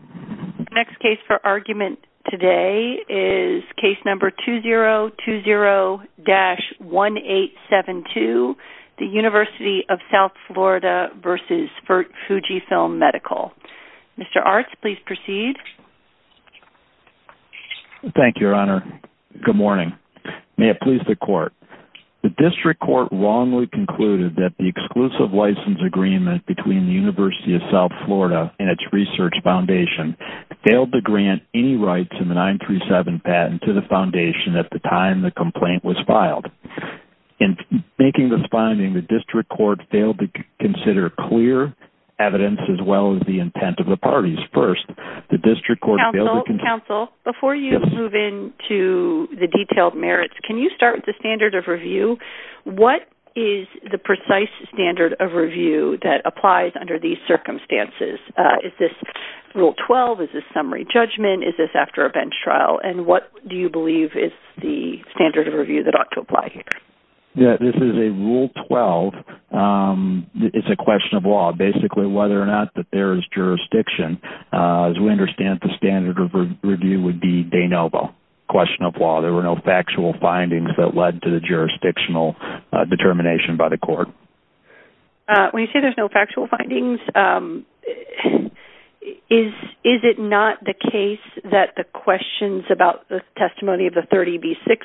The next case for argument today is case number 2020-1872, the University of South Florida v. Fujifilm Medical. Mr. Arts, please proceed. Thank you, Your Honor. Good morning. May it please the Court. The District Court wrongly concluded that the exclusive license agreement between the University of South Florida and its research foundation failed to grant any rights in the 937 patent to the foundation at the time the complaint was filed. In making this finding, the District Court failed to consider clear evidence as well as the intent of the parties. First, the District Court failed to... Counsel, counsel, before you move into the detailed merits, can you start with the standard of review? What is the precise standard of review that applies under these circumstances? Is this Rule 12? Is this summary judgment? Is this after a bench trial? And what do you believe is the standard of review that ought to apply here? Yeah, this is a Rule 12. It's a question of law, basically, whether or not that there is jurisdiction. As we understand, the standard of review would be de novo, question of law. There were no factual findings that led to the jurisdictional determination by the Court. When you say there's no factual findings, is it not the case that the questions about the testimony of the 30B6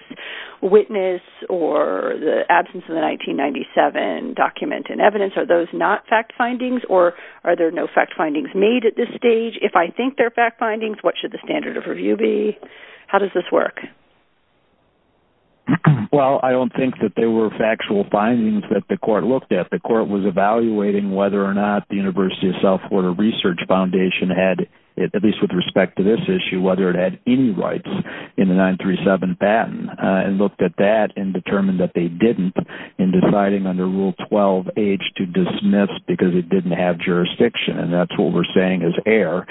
witness or the absence of the 1997 document in evidence, are those not fact findings or are there no fact findings made at this stage? If I think they're fact findings, what should the standard of review be? How does this work? Well, I don't think that there were factual findings that the Court looked at. The Court was evaluating whether or not the University of South Florida Research Foundation had, at least with respect to this issue, whether it had any rights in the 937 patent and looked at that and determined that they didn't in deciding under Rule 12H to dismiss because it didn't have jurisdiction. And that's what we're saying is error.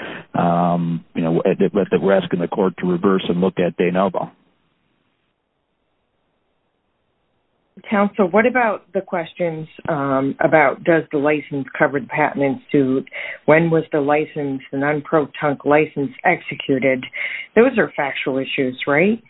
We're asking the Court to reverse and look at de novo. Counsel, what about the questions about does the license-covered patent ensue? When was the non-pro-tunk license executed? Those are factual issues, right?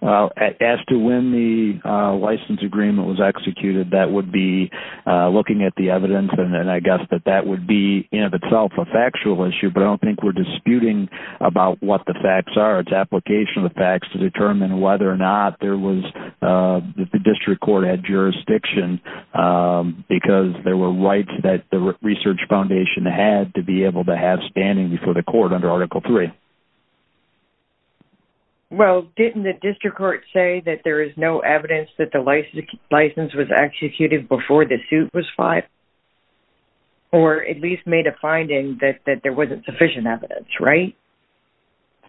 As to when the license agreement was executed, that would be looking at the evidence, and I guess that that would be in and of itself a factual issue. But I don't think we're disputing about what the facts are. It's application of the facts to determine whether or not the district court had jurisdiction because there were rights that the Research Foundation had to be able to have standing before the Court under Article III. Well, didn't the district court say that there is no evidence that the license was executed before the suit was filed? Or at least made a finding that there wasn't sufficient evidence, right?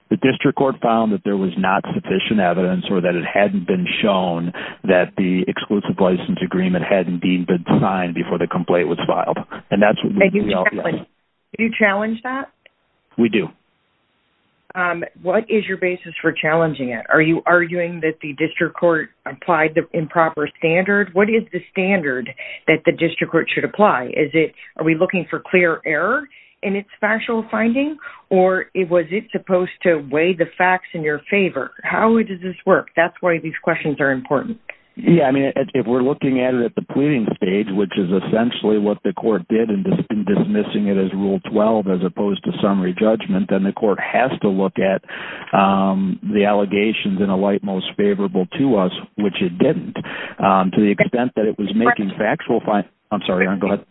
The district court found that there was not sufficient evidence or that it hadn't been shown that the exclusive license agreement hadn't been signed before the complaint was filed. Do you challenge that? We do. What is your basis for challenging it? Are you arguing that the district court applied the improper standard? What is the standard that the district court should apply? Are we looking for clear error in its factual finding? Or was it supposed to weigh the facts in your favor? How does this work? That's why these questions are important. Yeah, I mean, if we're looking at it at the pleading stage, which is essentially what the court did in dismissing it as Rule 12 as opposed to summary judgment, then the court has to look at the allegations in a light most favorable to us, which it didn't. To the extent that it was making factual findings... I'm sorry, Erin, go ahead.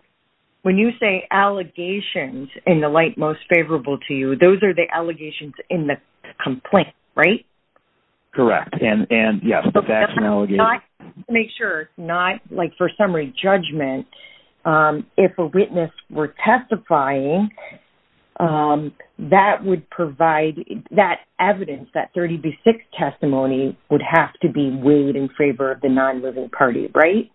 When you say allegations in the light most favorable to you, those are the allegations in the complaint, right? Correct. And, yes, the facts and allegations... Make sure it's not, like, for summary judgment. If a witness were testifying, that would provide that evidence, that 36 testimony would have to be weighed in favor of the non-living party, right?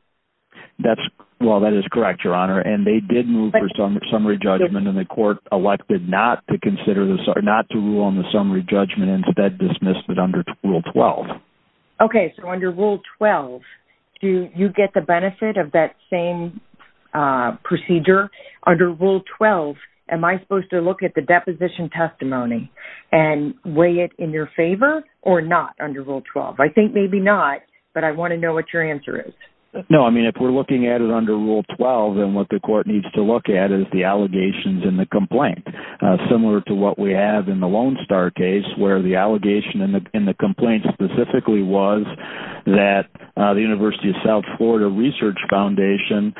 Well, that is correct, Your Honor. And they did move for summary judgment, and the court elected not to rule on the summary judgment and instead dismissed it under Rule 12. Okay, so under Rule 12, do you get the benefit of that same procedure? Under Rule 12, am I supposed to look at the deposition testimony and weigh it in your favor or not under Rule 12? I think maybe not, but I want to know what your answer is. No, I mean, if we're looking at it under Rule 12, then what the court needs to look at is the allegations in the complaint. Similar to what we have in the Lone Star case, where the allegation in the complaint specifically was that the University of South Florida Research Foundation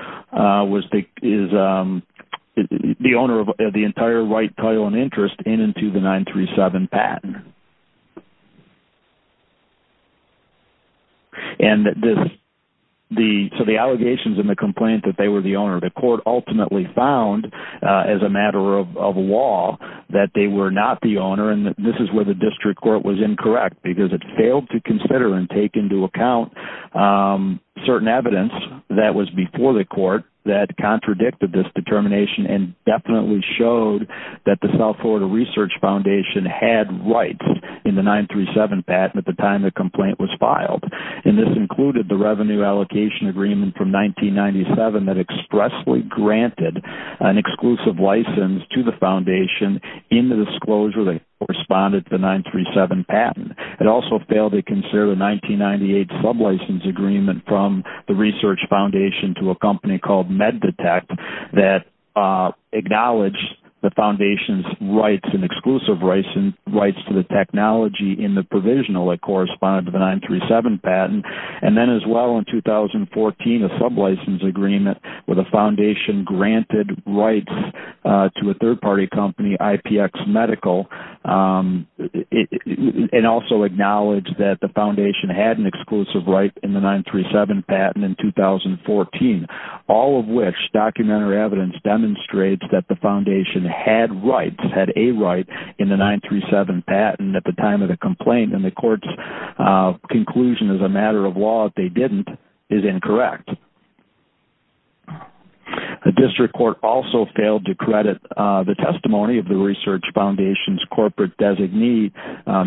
is the owner of the entire right, title, and interest in and to the 937 patent. So the allegations in the complaint that they were the owner of the court ultimately found, as a matter of law, that they were not the owner, and this is where the district court was incorrect, because it failed to consider and take into account certain evidence that was before the court that contradicted this determination and definitely showed that the South Florida Research Foundation had rights in the 937 patent at the time the complaint was filed. And this included the revenue allocation agreement from 1997 that expressly granted an exclusive license to the foundation in the disclosure that corresponded to the 937 patent. It also failed to consider the 1998 sublicense agreement from the Research Foundation to a company called MedDetect that acknowledged the foundation's rights and exclusive rights to the technology in the provisional that corresponded to the 937 patent. And then as well in 2014, a sublicense agreement where the foundation granted rights to a third-party company, IPX Medical, and also acknowledged that the foundation had an exclusive right in the 937 patent in 2014, all of which documentary evidence demonstrates that the foundation had rights, had a right, in the 937 patent at the time of the complaint. And the court's conclusion, as a matter of law, that they didn't is incorrect. The district court also failed to credit the testimony of the Research Foundation's corporate designee,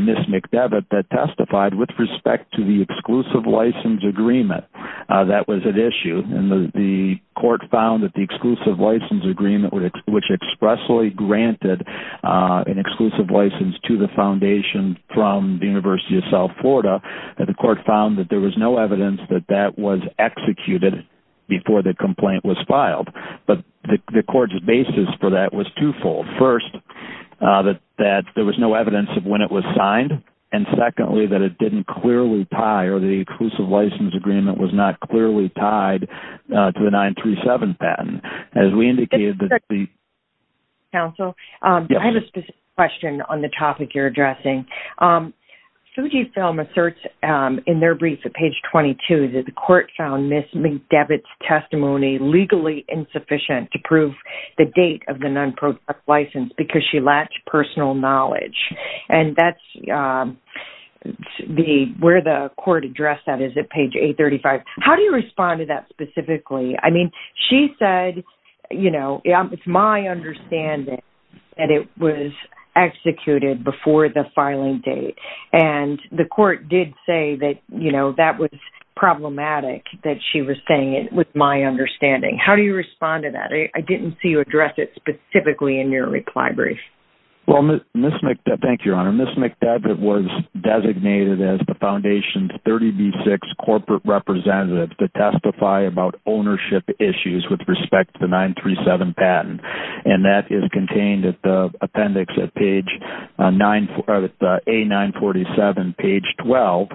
Ms. McDevitt, that testified with respect to the exclusive license agreement. That was at issue. And the court found that the exclusive license agreement, which expressly granted an exclusive license to the foundation from the University of South Florida, the court found that there was no evidence that that was executed before the complaint was filed. But the court's basis for that was twofold. First, that there was no evidence of when it was signed, and secondly, that it didn't clearly tie or the exclusive license agreement was not clearly tied to the 937 patent. As we indicated that the... Council, I have a specific question on the topic you're addressing. Fujifilm asserts in their brief at page 22 that the court found Ms. McDevitt's testimony legally insufficient to prove the date of the non-profit license because she lacked personal knowledge. And that's where the court addressed that is at page 835. How do you respond to that specifically? I mean, she said, you know, it's my understanding that it was executed before the filing date. And the court did say that, you know, that was problematic that she was saying it with my understanding. How do you respond to that? I didn't see you address it specifically in your reply brief. Well, Ms. McDevitt, thank you, Your Honor. Ms. McDevitt was designated as the foundation's 30B6 corporate representative to testify about ownership issues with respect to the 937 patent. And that is contained at the appendix at page 9, A947, page 12,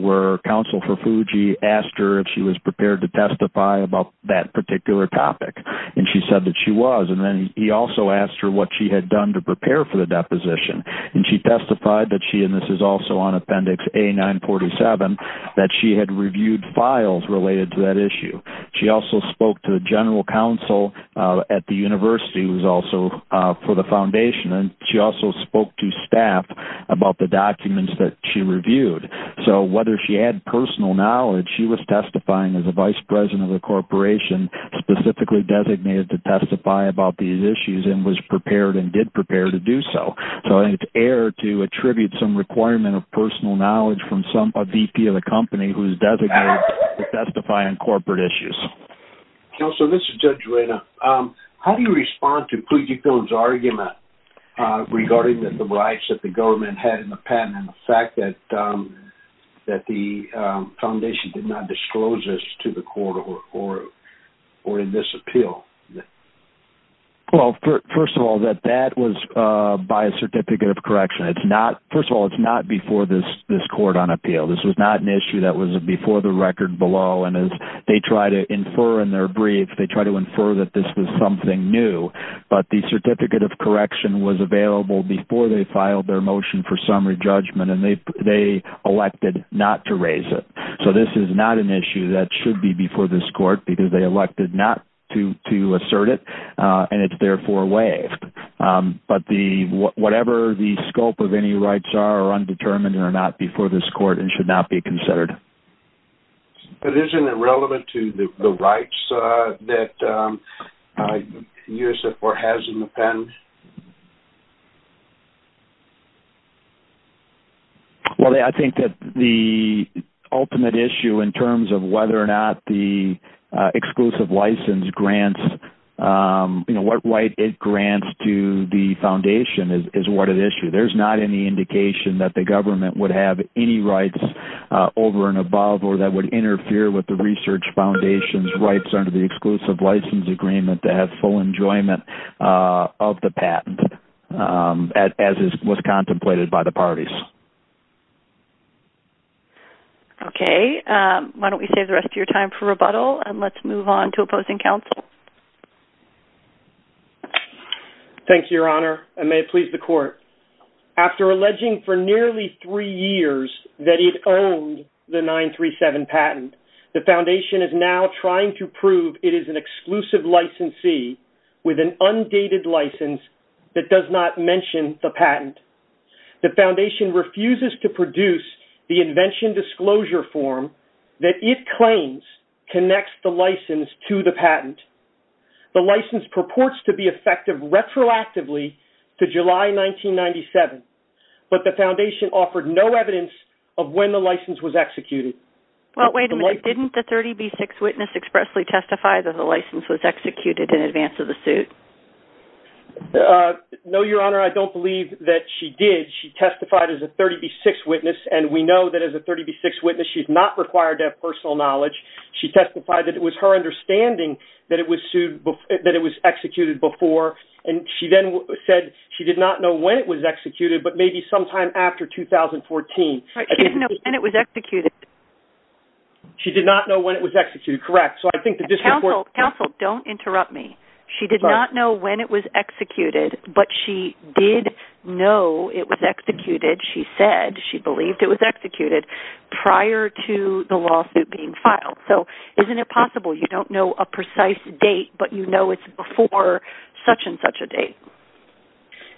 where counsel for Fuji asked her if she was prepared to testify about that particular topic. And she said that she was. And then he also asked her what she had done to prepare for the deposition. And she testified that she, and this is also on appendix A947, that she had reviewed files related to that issue. She also spoke to the general counsel at the university who was also for the foundation. And she also spoke to staff about the documents that she reviewed. So whether she had personal knowledge, she was testifying as the vice president of the corporation, specifically designated to testify about these issues and was prepared and did prepare to do so. So it's air to attribute some requirement of personal knowledge from a VP of a company who is designated to testify on corporate issues. Counsel, this is Judge Reina. How do you respond to Fuji Films' argument regarding the rights that the foundation did not disclose this to the court or in this appeal? Well, first of all, that that was by a certificate of correction. First of all, it's not before this court on appeal. This was not an issue that was before the record below. And as they try to infer in their brief, they try to infer that this was something new. But the certificate of correction was available before they filed their not to raise it. So this is not an issue that should be before this court because they elected not to assert it, and it's therefore waived. But whatever the scope of any rights are, are undetermined or not before this court and should not be considered. But isn't it relevant to the rights that USO4 has in the pen? Well, I think that the ultimate issue in terms of whether or not the exclusive license grants, what right it grants to the foundation is what an issue. There's not any indication that the government would have any rights over and above or that would interfere with the research foundation's rights as it was contemplated by the parties. Okay. Why don't we save the rest of your time for rebuttal and let's move on to opposing counsel. Thank you, Your Honor, and may it please the court. After alleging for nearly three years that it owned the 937 patent, the foundation is now trying to prove it is an exclusive licensee with an undated license that does not mention the patent. The foundation refuses to produce the invention disclosure form that it claims connects the license to the patent. The license purports to be effective retroactively to July 1997, but the foundation offered no evidence of when the license was executed. Well, wait a minute. Didn't the 30B6 witness expressly testify that the license was executed in advance of the suit? No, Your Honor, I don't believe that she did. She testified as a 30B6 witness, and we know that as a 30B6 witness she's not required to have personal knowledge. She testified that it was her understanding that it was executed before, and she then said she did not know when it was executed, but maybe sometime after 2014. She didn't know when it was executed. She did not know when it was executed, correct. Counsel, don't interrupt me. She did not know when it was executed, but she did know it was executed. She said she believed it was executed prior to the lawsuit being filed. So isn't it possible you don't know a precise date, but you know it's before such and such a date?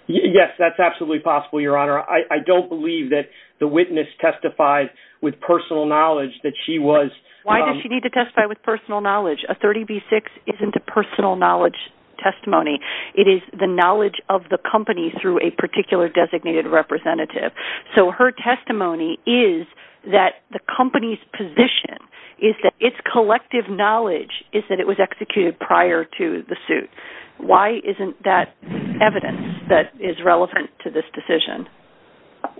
Yes, that's absolutely possible, Your Honor. I don't believe that the witness testified with personal knowledge that she was. Why does she need to testify with personal knowledge? A 30B6 isn't a personal knowledge testimony. It is the knowledge of the company through a particular designated representative. So her testimony is that the company's position is that its collective knowledge is that it was executed prior to the suit. Why isn't that evidence that is relevant to this decision?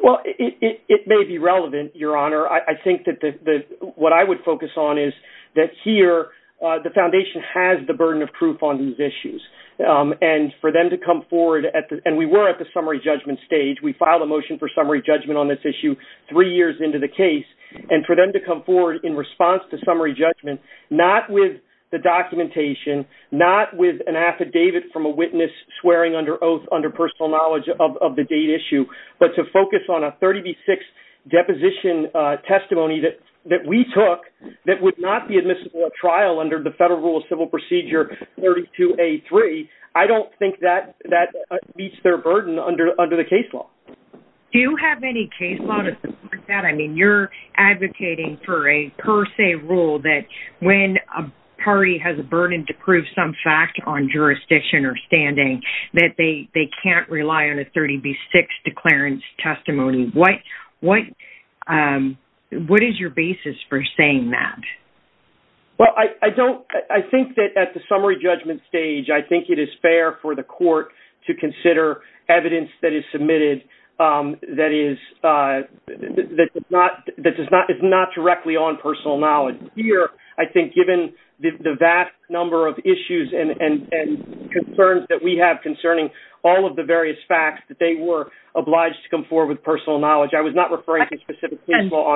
Well, it may be relevant, Your Honor. I think that what I would focus on is that here, the Foundation has the burden of proof on these issues. And for them to come forward, and we were at the summary judgment stage. We filed a motion for summary judgment on this issue three years into the case. And for them to come forward in response to summary judgment, not with the documentation, not with an affidavit from a witness swearing under oath under personal knowledge of the date issue, but to focus on a 30B6 deposition testimony that we took that would not be admissible at trial under the Federal Rule of Civil Procedure 32A3, I don't think that meets their burden under the case law. Do you have any case law to support that? I mean, you're advocating for a per se rule that when a party has a burden to prove some fact on jurisdiction or standing, that they can't rely on a 30B6 declarance testimony. What is your basis for saying that? Well, I think that at the summary judgment stage, I think it is fair for the court to consider evidence that is submitted that is not directly on personal knowledge. Here, I think given the vast number of issues and concerns that we have concerning all of the various facts, that they were obliged to come forward with personal knowledge. I was not referring to specific case law.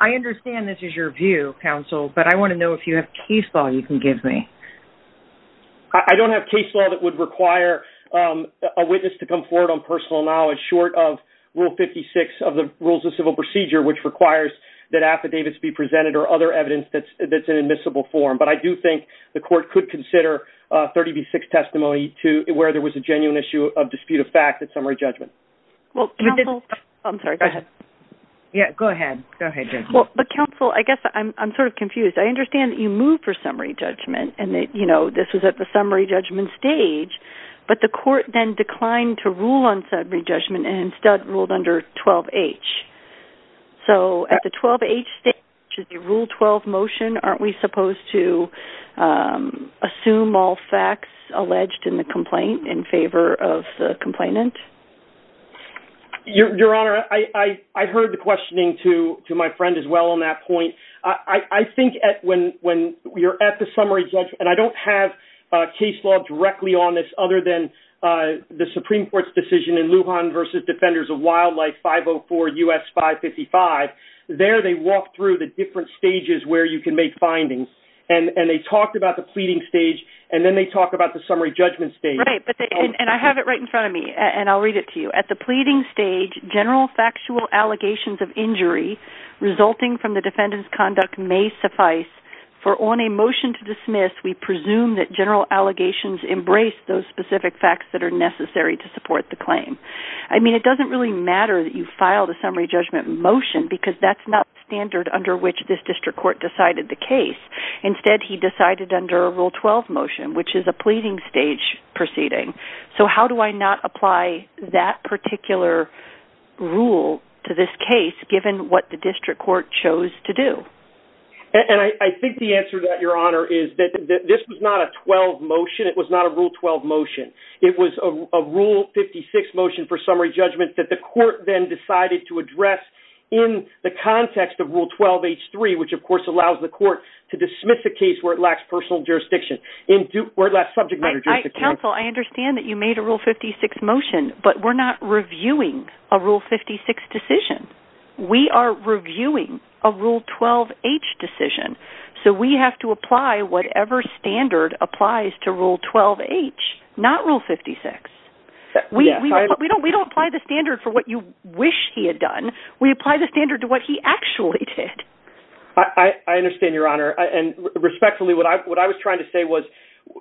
I understand this is your view, counsel, but I want to know if you have case law you can give me. I don't have case law that would require a witness to come forward on personal knowledge short of Rule 56 of the Rules of Civil Procedure, which requires that affidavits be presented or other evidence that's in admissible form. But I do think the court could consider 30B6 testimony where there was a genuine issue of dispute of fact at summary judgment. Counsel, I guess I'm sort of confused. I understand that you moved for summary judgment and this was at the summary judgment stage, but the court then declined to rule on summary judgment and instead ruled under 12H. So at the 12H stage, the Rule 12 motion, aren't we supposed to assume all facts alleged in the complaint in favor of the complainant? Your Honor, I heard the questioning to my friend as well on that point. I think when you're at the summary judgment, and I don't have case law directly on this other than the Supreme Court's decision in Lujan versus Defenders of Wildlife 504 U.S. 555, there they walked through the different stages where you can make findings and they talked about the pleading stage and then they talked about the summary judgment stage. Right, and I have it right in front of me and I'll read it to you. At the pleading stage, general factual allegations of injury resulting from the defendant's conduct may suffice for on a motion to dismiss, we presume that general allegations embrace those specific facts that are necessary to support the claim. I mean, it doesn't really matter that you file the summary judgment motion because that's not the standard under which this district court decided the case. Instead, he decided under a Rule 12 motion, which is a pleading stage proceeding. So how do I not apply that particular rule to this case given what the district court chose to do? And I think the answer to that, Your Honor, is that this was not a 12 motion. It was not a Rule 12 motion. It was a Rule 56 motion for summary judgment that the court then decided to address in the context of Rule 12H3, which, of course, allows the court to dismiss the case where it lacks personal jurisdiction, where it lacks subject matter jurisdiction. Counsel, I understand that you made a Rule 56 motion, but we're not reviewing a Rule 56 decision. We are reviewing a Rule 12H decision. So we have to apply whatever standard applies to Rule 12H, not Rule 56. We don't apply the standard for what you wish he had done. We apply the standard to what he actually did. I understand, Your Honor. And respectfully, what I was trying to say was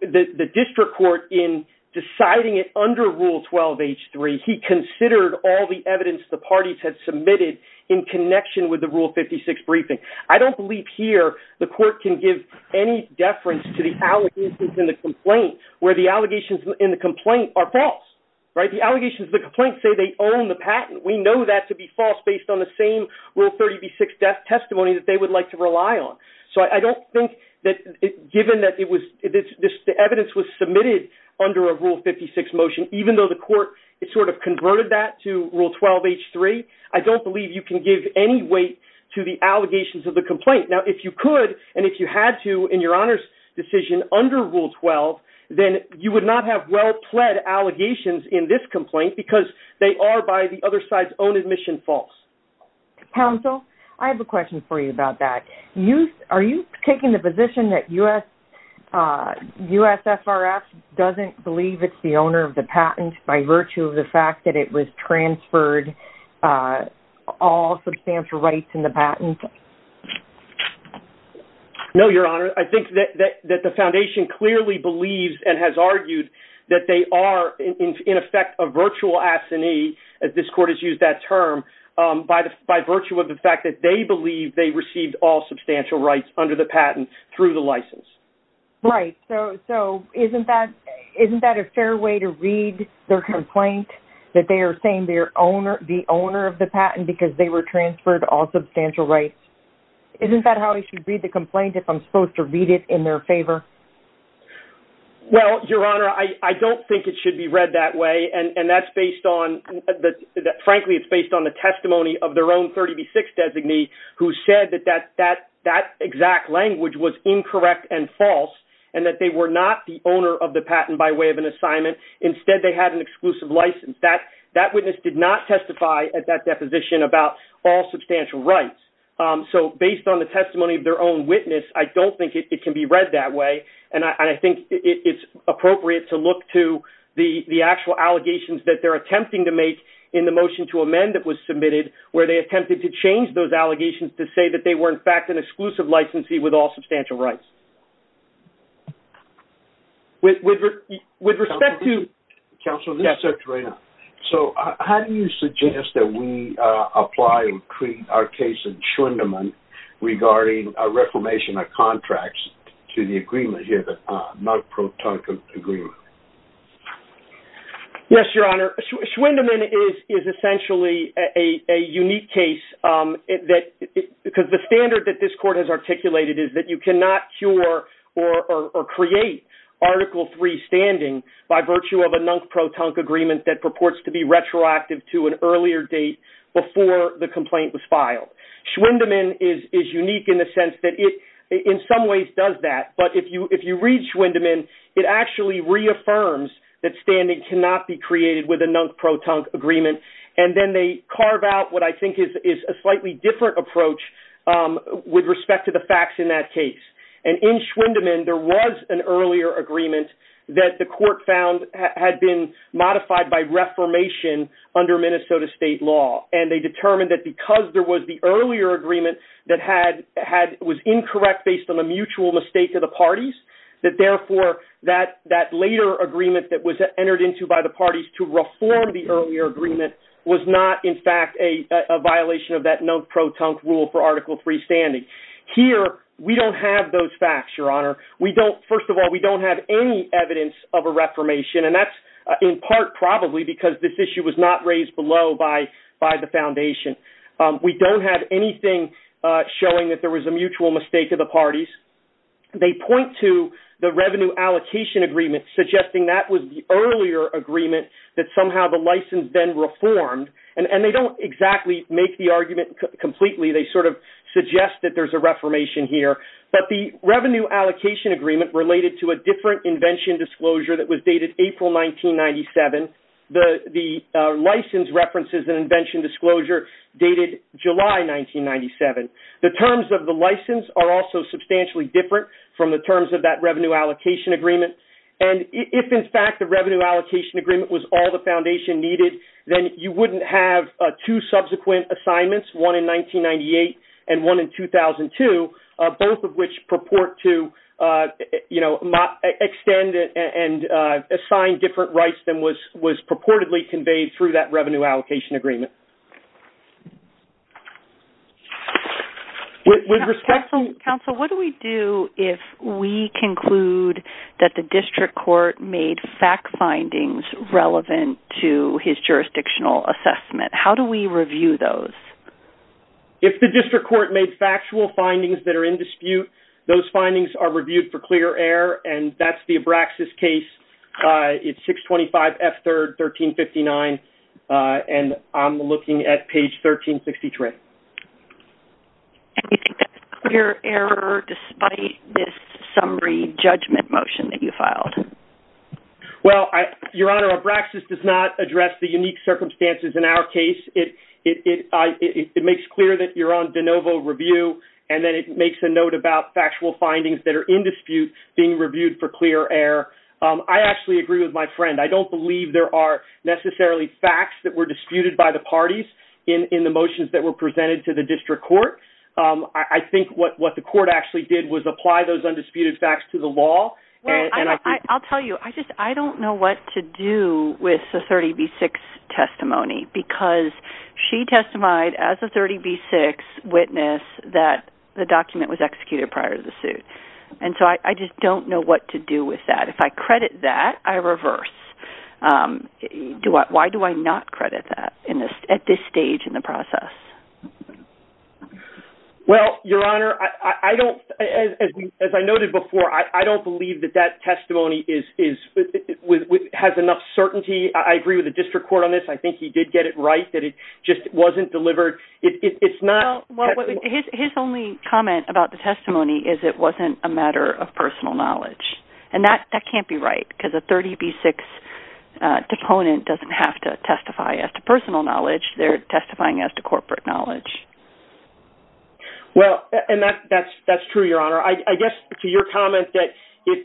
the district court in deciding it under Rule 12H3, he considered all the evidence the parties had submitted in connection with the Rule 56 briefing. I don't believe here the court can give any deference to the allegations in the complaint where the allegations in the complaint are false. The allegations in the complaint say they own the patent. We know that to be false based on the same Rule 36 testimony that they would like to rely on. So I don't think that given that the evidence was submitted under a Rule 56 motion, even though the court sort of converted that to Rule 12H3, I don't believe you can give any weight to the allegations of the complaint. Now, if you could and if you had to in your Honor's decision under Rule 12, then you would not have well-pled allegations in this complaint because they are by the other side's own admission false. Counsel, I have a question for you about that. Are you taking the position that USFRF doesn't believe it's the owner of the patent by virtue of the fact that it was transferred all substantial rights in the patent? No, Your Honor. I think that the Foundation clearly believes and has argued that they are in effect a virtual assignee, as this court has used that term, by virtue of the fact that they believe they received all substantial rights under the patent through the license. Right. So isn't that a fair way to read their complaint, that they are saying they are the owner of the patent Isn't that how I should read the complaint if I'm supposed to read it in their favor? Well, Your Honor, I don't think it should be read that way, and that's based on, frankly, it's based on the testimony of their own 30B6 designee who said that that exact language was incorrect and false and that they were not the owner of the patent by way of an assignment. Instead, they had an exclusive license. That witness did not testify at that deposition about all substantial rights. So based on the testimony of their own witness, I don't think it can be read that way, and I think it's appropriate to look to the actual allegations that they're attempting to make in the motion to amend that was submitted where they attempted to change those allegations to say that they were, in fact, an exclusive licensee with all substantial rights. With respect to... Counselor, this is Secretary Reynolds. So how do you suggest that we apply our case in Schwindeman regarding a reformation of contracts to the agreement here, the Nunk-Pro-Tunk agreement? Yes, Your Honor. Schwindeman is essentially a unique case because the standard that this court has articulated is that you cannot cure or create Article III standing by virtue of a Nunk-Pro-Tunk agreement that purports to be retroactive to an earlier date before the complaint was filed. Schwindeman is unique in the sense that it, in some ways, does that, but if you read Schwindeman, it actually reaffirms that standing cannot be created with a Nunk-Pro-Tunk agreement, and then they carve out what I think is a slightly different approach with respect to the facts in that case. And in Schwindeman, there was an earlier agreement that the court found had been modified by reformation under Minnesota state law, and they determined that because there was the earlier agreement that was incorrect based on a mutual mistake of the parties, that therefore that later agreement that was entered into by the parties to reform the earlier agreement was not, in fact, a violation of that Nunk-Pro-Tunk rule for Article III standing. Here, we don't have those facts, Your Honor. First of all, we don't have any evidence of a reformation, and that's in part probably because this issue was not raised below by the foundation. We don't have anything showing that there was a mutual mistake of the parties. They point to the revenue allocation agreement suggesting that was the earlier agreement, that somehow the license then reformed, and they don't exactly make the argument completely. They sort of suggest that there's a reformation here, but the revenue allocation agreement related to a different invention disclosure that was dated April 1997. The license references an invention disclosure dated July 1997. The terms of the license are also substantially different from the terms of that revenue allocation agreement, and if, in fact, the revenue allocation agreement was all the foundation needed, then you wouldn't have two subsequent assignments, one in 1998 and one in 2002, both of which purport to, you know, extend and assign different rights than was purportedly conveyed through that revenue allocation agreement. With respect to... Counsel, what do we do if we conclude that the district court made fact findings relevant to his jurisdictional assessment? How do we review those? If the district court made factual findings that are in dispute, those findings are reviewed for clear error, and that's the Abraxas case. It's 625 F. 3rd, 1359, and I'm looking at page 1363. And you think that's clear error despite this summary judgment motion that you filed? Well, Your Honor, Abraxas does not address the unique circumstances in our case. It makes clear that you're on de novo review, and then it makes a note about factual findings that are in dispute being reviewed for clear error. I actually agree with my friend. I don't believe there are necessarily facts that were disputed by the parties in the motions that were presented to the district court. I think what the court actually did was apply those undisputed facts to the law. Well, I'll tell you, I just don't know what to do with the 30B6 testimony because she testified as a 30B6 witness that the document was executed prior to the suit. And so I just don't know what to do with that. If I credit that, I reverse. Why do I not credit that at this stage in the process? Well, Your Honor, as I noted before, I don't believe that that testimony has enough certainty. I agree with the district court on this. I think he did get it right that it just wasn't delivered. His only comment about the testimony is it wasn't a matter of personal knowledge. And that can't be right because a 30B6 deponent doesn't have to testify as to personal knowledge. They're testifying as to corporate knowledge. Well, and that's true, Your Honor. I guess to your comment that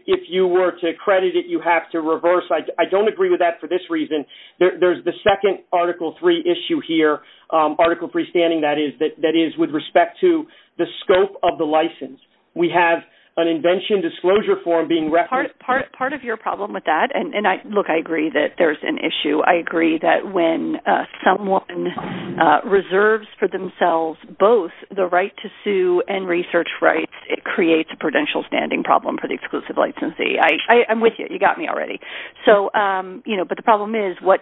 if you were to credit it, you have to reverse, I don't agree with that for this reason. There's the second Article III issue here, Article III standing that is, that is with respect to the scope of the license. We have an invention disclosure form being referenced. Part of your problem with that, and look, I agree that there's an issue. I agree that when someone reserves for themselves both the right to sue and research rights, it creates a prudential standing problem for the exclusive licensee. I'm with you. You got me already. But the problem is what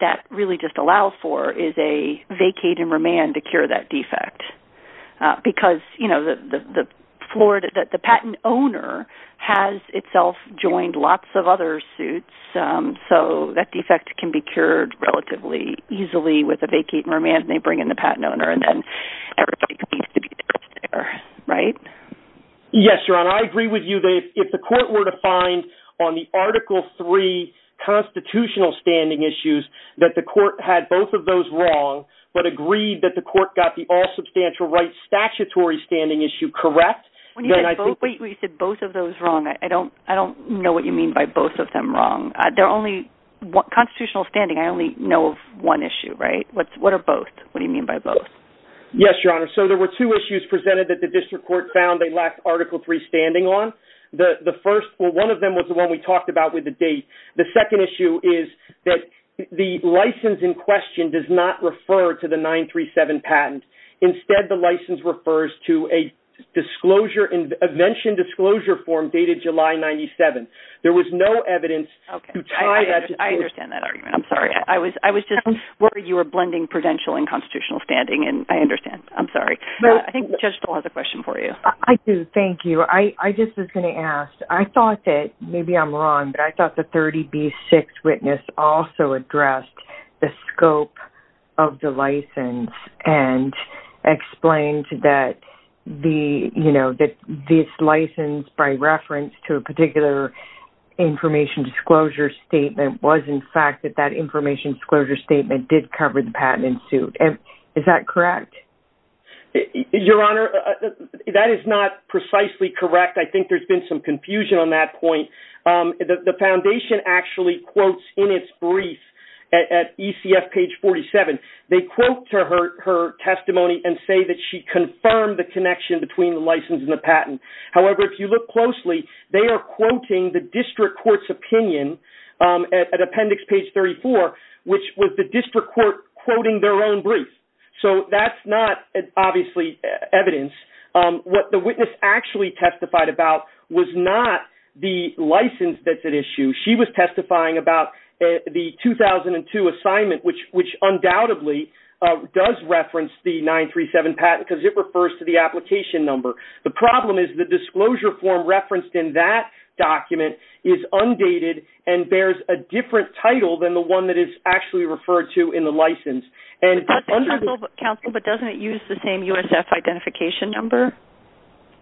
that really just allows for is a vacate and remand to cure that defect because, you know, the patent owner has itself joined lots of other suits, so that defect can be cured relatively easily with a vacate and remand and they bring in the patent owner and then everybody needs to be there, right? Yes, Your Honor. I agree with you. If the court were to find on the Article III constitutional standing issues that the court had both of those wrong but agreed that the court got the all-substantial rights statutory standing issue correct, then I think... When you said both of those wrong, I don't know what you mean by both of them wrong. They're only constitutional standing. I only know of one issue, right? What are both? What do you mean by both? Yes, Your Honor. So there were two issues presented that the district court found they lacked Article III standing on. The first, well, one of them was the one we talked about with the date. The second issue is that the license in question does not refer to the 937 patent. Instead, the license refers to a disclosure invention disclosure form dated July 97. There was no evidence to tie that to... I understand that argument. I'm sorry. I was just worried you were blending prudential and constitutional standing and I understand. I'm sorry. I think Judge Stoll has a question for you. I do. Thank you. I just was going to ask. I thought that, maybe I'm wrong, but I thought the 30B6 witness also addressed the scope of the license and explained that this license, by reference to a particular information disclosure statement, was in fact that that information disclosure statement did cover the patent in suit. Is that correct? Your Honor, that is not precisely correct. I think there's been some confusion on that point. The foundation actually quotes in its brief at ECF page 47. They quote to her testimony and say that she confirmed the connection between the license and the patent. However, if you look closely, they are quoting the district court's opinion at appendix page 34, which was the district court quoting their own brief. So that's not obviously evidence. What the witness actually testified about was not the license that's at issue. She was testifying about the 2002 assignment, which undoubtedly does reference the 937 patent because it refers to the application number. The problem is the disclosure form referenced in that document is undated and bears a different title than the one that is actually referred to in the license. Counsel, but doesn't it use the same USF identification number?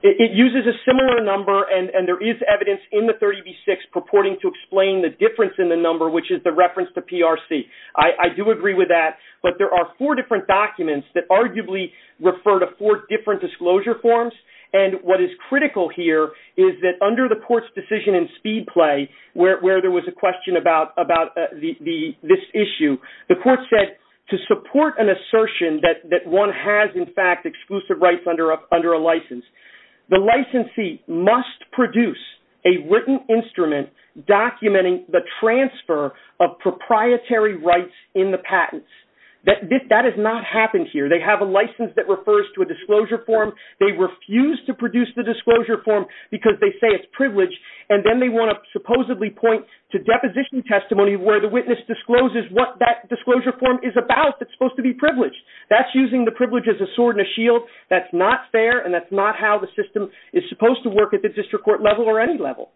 It uses a similar number and there is evidence in the 30B-6 purporting to explain the difference in the number, which is the reference to PRC. I do agree with that, but there are four different documents that arguably refer to four different disclosure forms. And what is critical here is that under the court's decision in speed play, where there was a question about this issue, the court said to support an assertion that one has, in fact, exclusive rights under a license. The licensee must produce a written instrument documenting the transfer of proprietary rights in the patents. That has not happened here. They have a license that refers to a disclosure form. They refuse to produce the disclosure form because they say it's privileged, and then they want to supposedly point to deposition testimony where the witness discloses what that disclosure form is about. It's supposed to be privileged. That's using the privilege as a sword and a shield. That's not fair, and that's not how the system is supposed to work at the district court level or any level.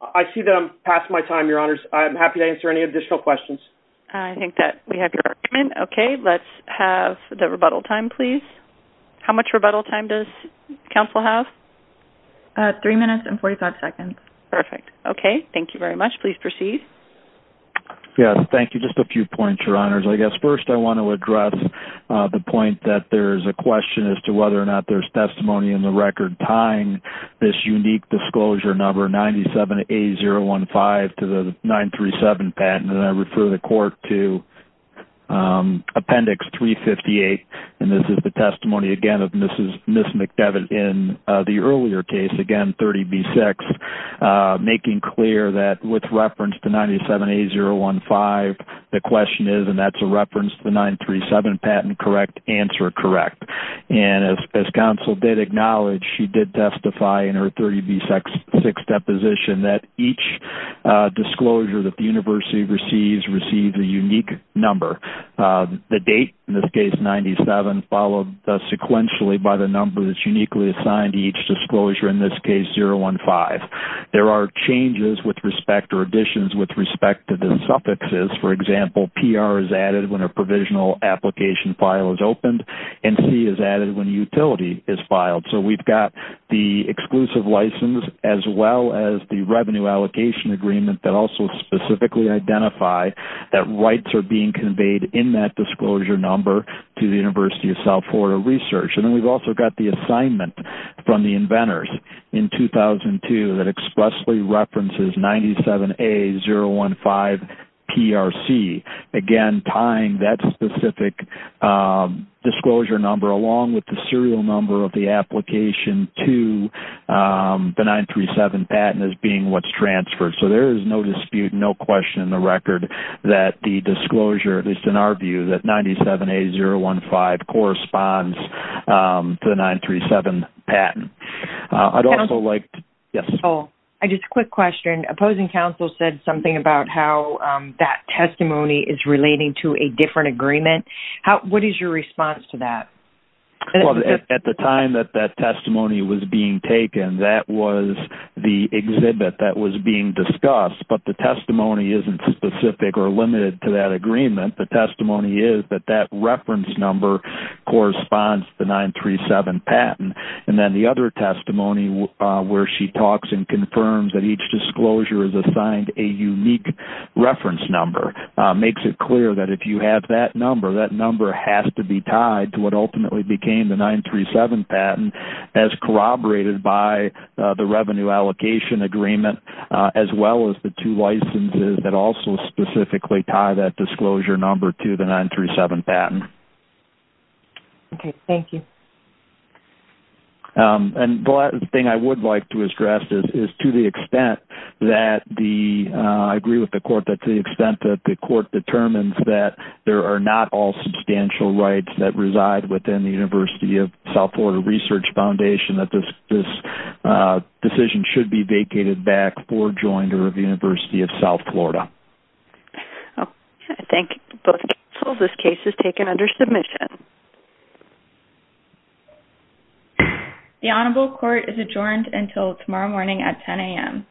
I see that I'm past my time, Your Honors. I'm happy to answer any additional questions. I think that we have your argument. Okay, let's have the rebuttal time, please. How much rebuttal time does counsel have? Three minutes and 45 seconds. Perfect. Okay, thank you very much. Please proceed. Yes, thank you. Just a few points, Your Honors. I guess first I want to address the point that there's a question as to whether or not there's testimony in the record tying this unique disclosure number 97A015 to the 937 patent, and I refer the court to Appendix 358, and this is the testimony, again, of Ms. McDevitt in the earlier case, again, 30B6, making clear that with reference to 97A015, the question is, and that's a reference to the 937 patent, correct, answer correct. And as counsel did acknowledge, she did testify in her 30B6 deposition that each disclosure that the university receives receives a unique number. The date, in this case 97, followed sequentially by the number that's uniquely assigned to each disclosure, in this case 015. There are changes with respect, or additions with respect to the suffixes. For example, PR is added when a provisional application file is opened, and C is added when a utility is filed. So we've got the exclusive license as well as the revenue allocation agreement that also specifically identify that rights are being conveyed in that disclosure number to the University of South Florida Research. And then we've also got the assignment from the inventors in 2002 that expressly references 97A015PRC, again, tying that specific disclosure number along with the serial number of the application to the 937 patent as being what's transferred. So there is no dispute, no question in the record, that the disclosure, at least in our view, that 97A015 corresponds to the 937 patent. I'd also like to... Yes. I just have a quick question. Opposing counsel said something about how that testimony is relating to a different agreement. What is your response to that? At the time that that testimony was being taken, that was the exhibit that was being discussed, but the testimony isn't specific or limited to that agreement. The testimony is that that reference number corresponds to the 937 patent. And then the other testimony where she talks and confirms that each disclosure is assigned a unique reference number makes it clear that if you have that number, that number has to be tied to what ultimately became the 937 patent as corroborated by the revenue allocation agreement as well as the two licenses that also specifically tie that disclosure number to the 937 patent. Okay. Thank you. And the thing I would like to address is to the extent that the... I agree with the court that to the extent that the court determines that there are not all substantial rights that reside within the University of South Florida Research Foundation, that this decision should be vacated back to the Board Joinder of the University of South Florida. I thank both counsels. This case is taken under submission. The Honorable Court is adjourned until tomorrow morning at 10 a.m.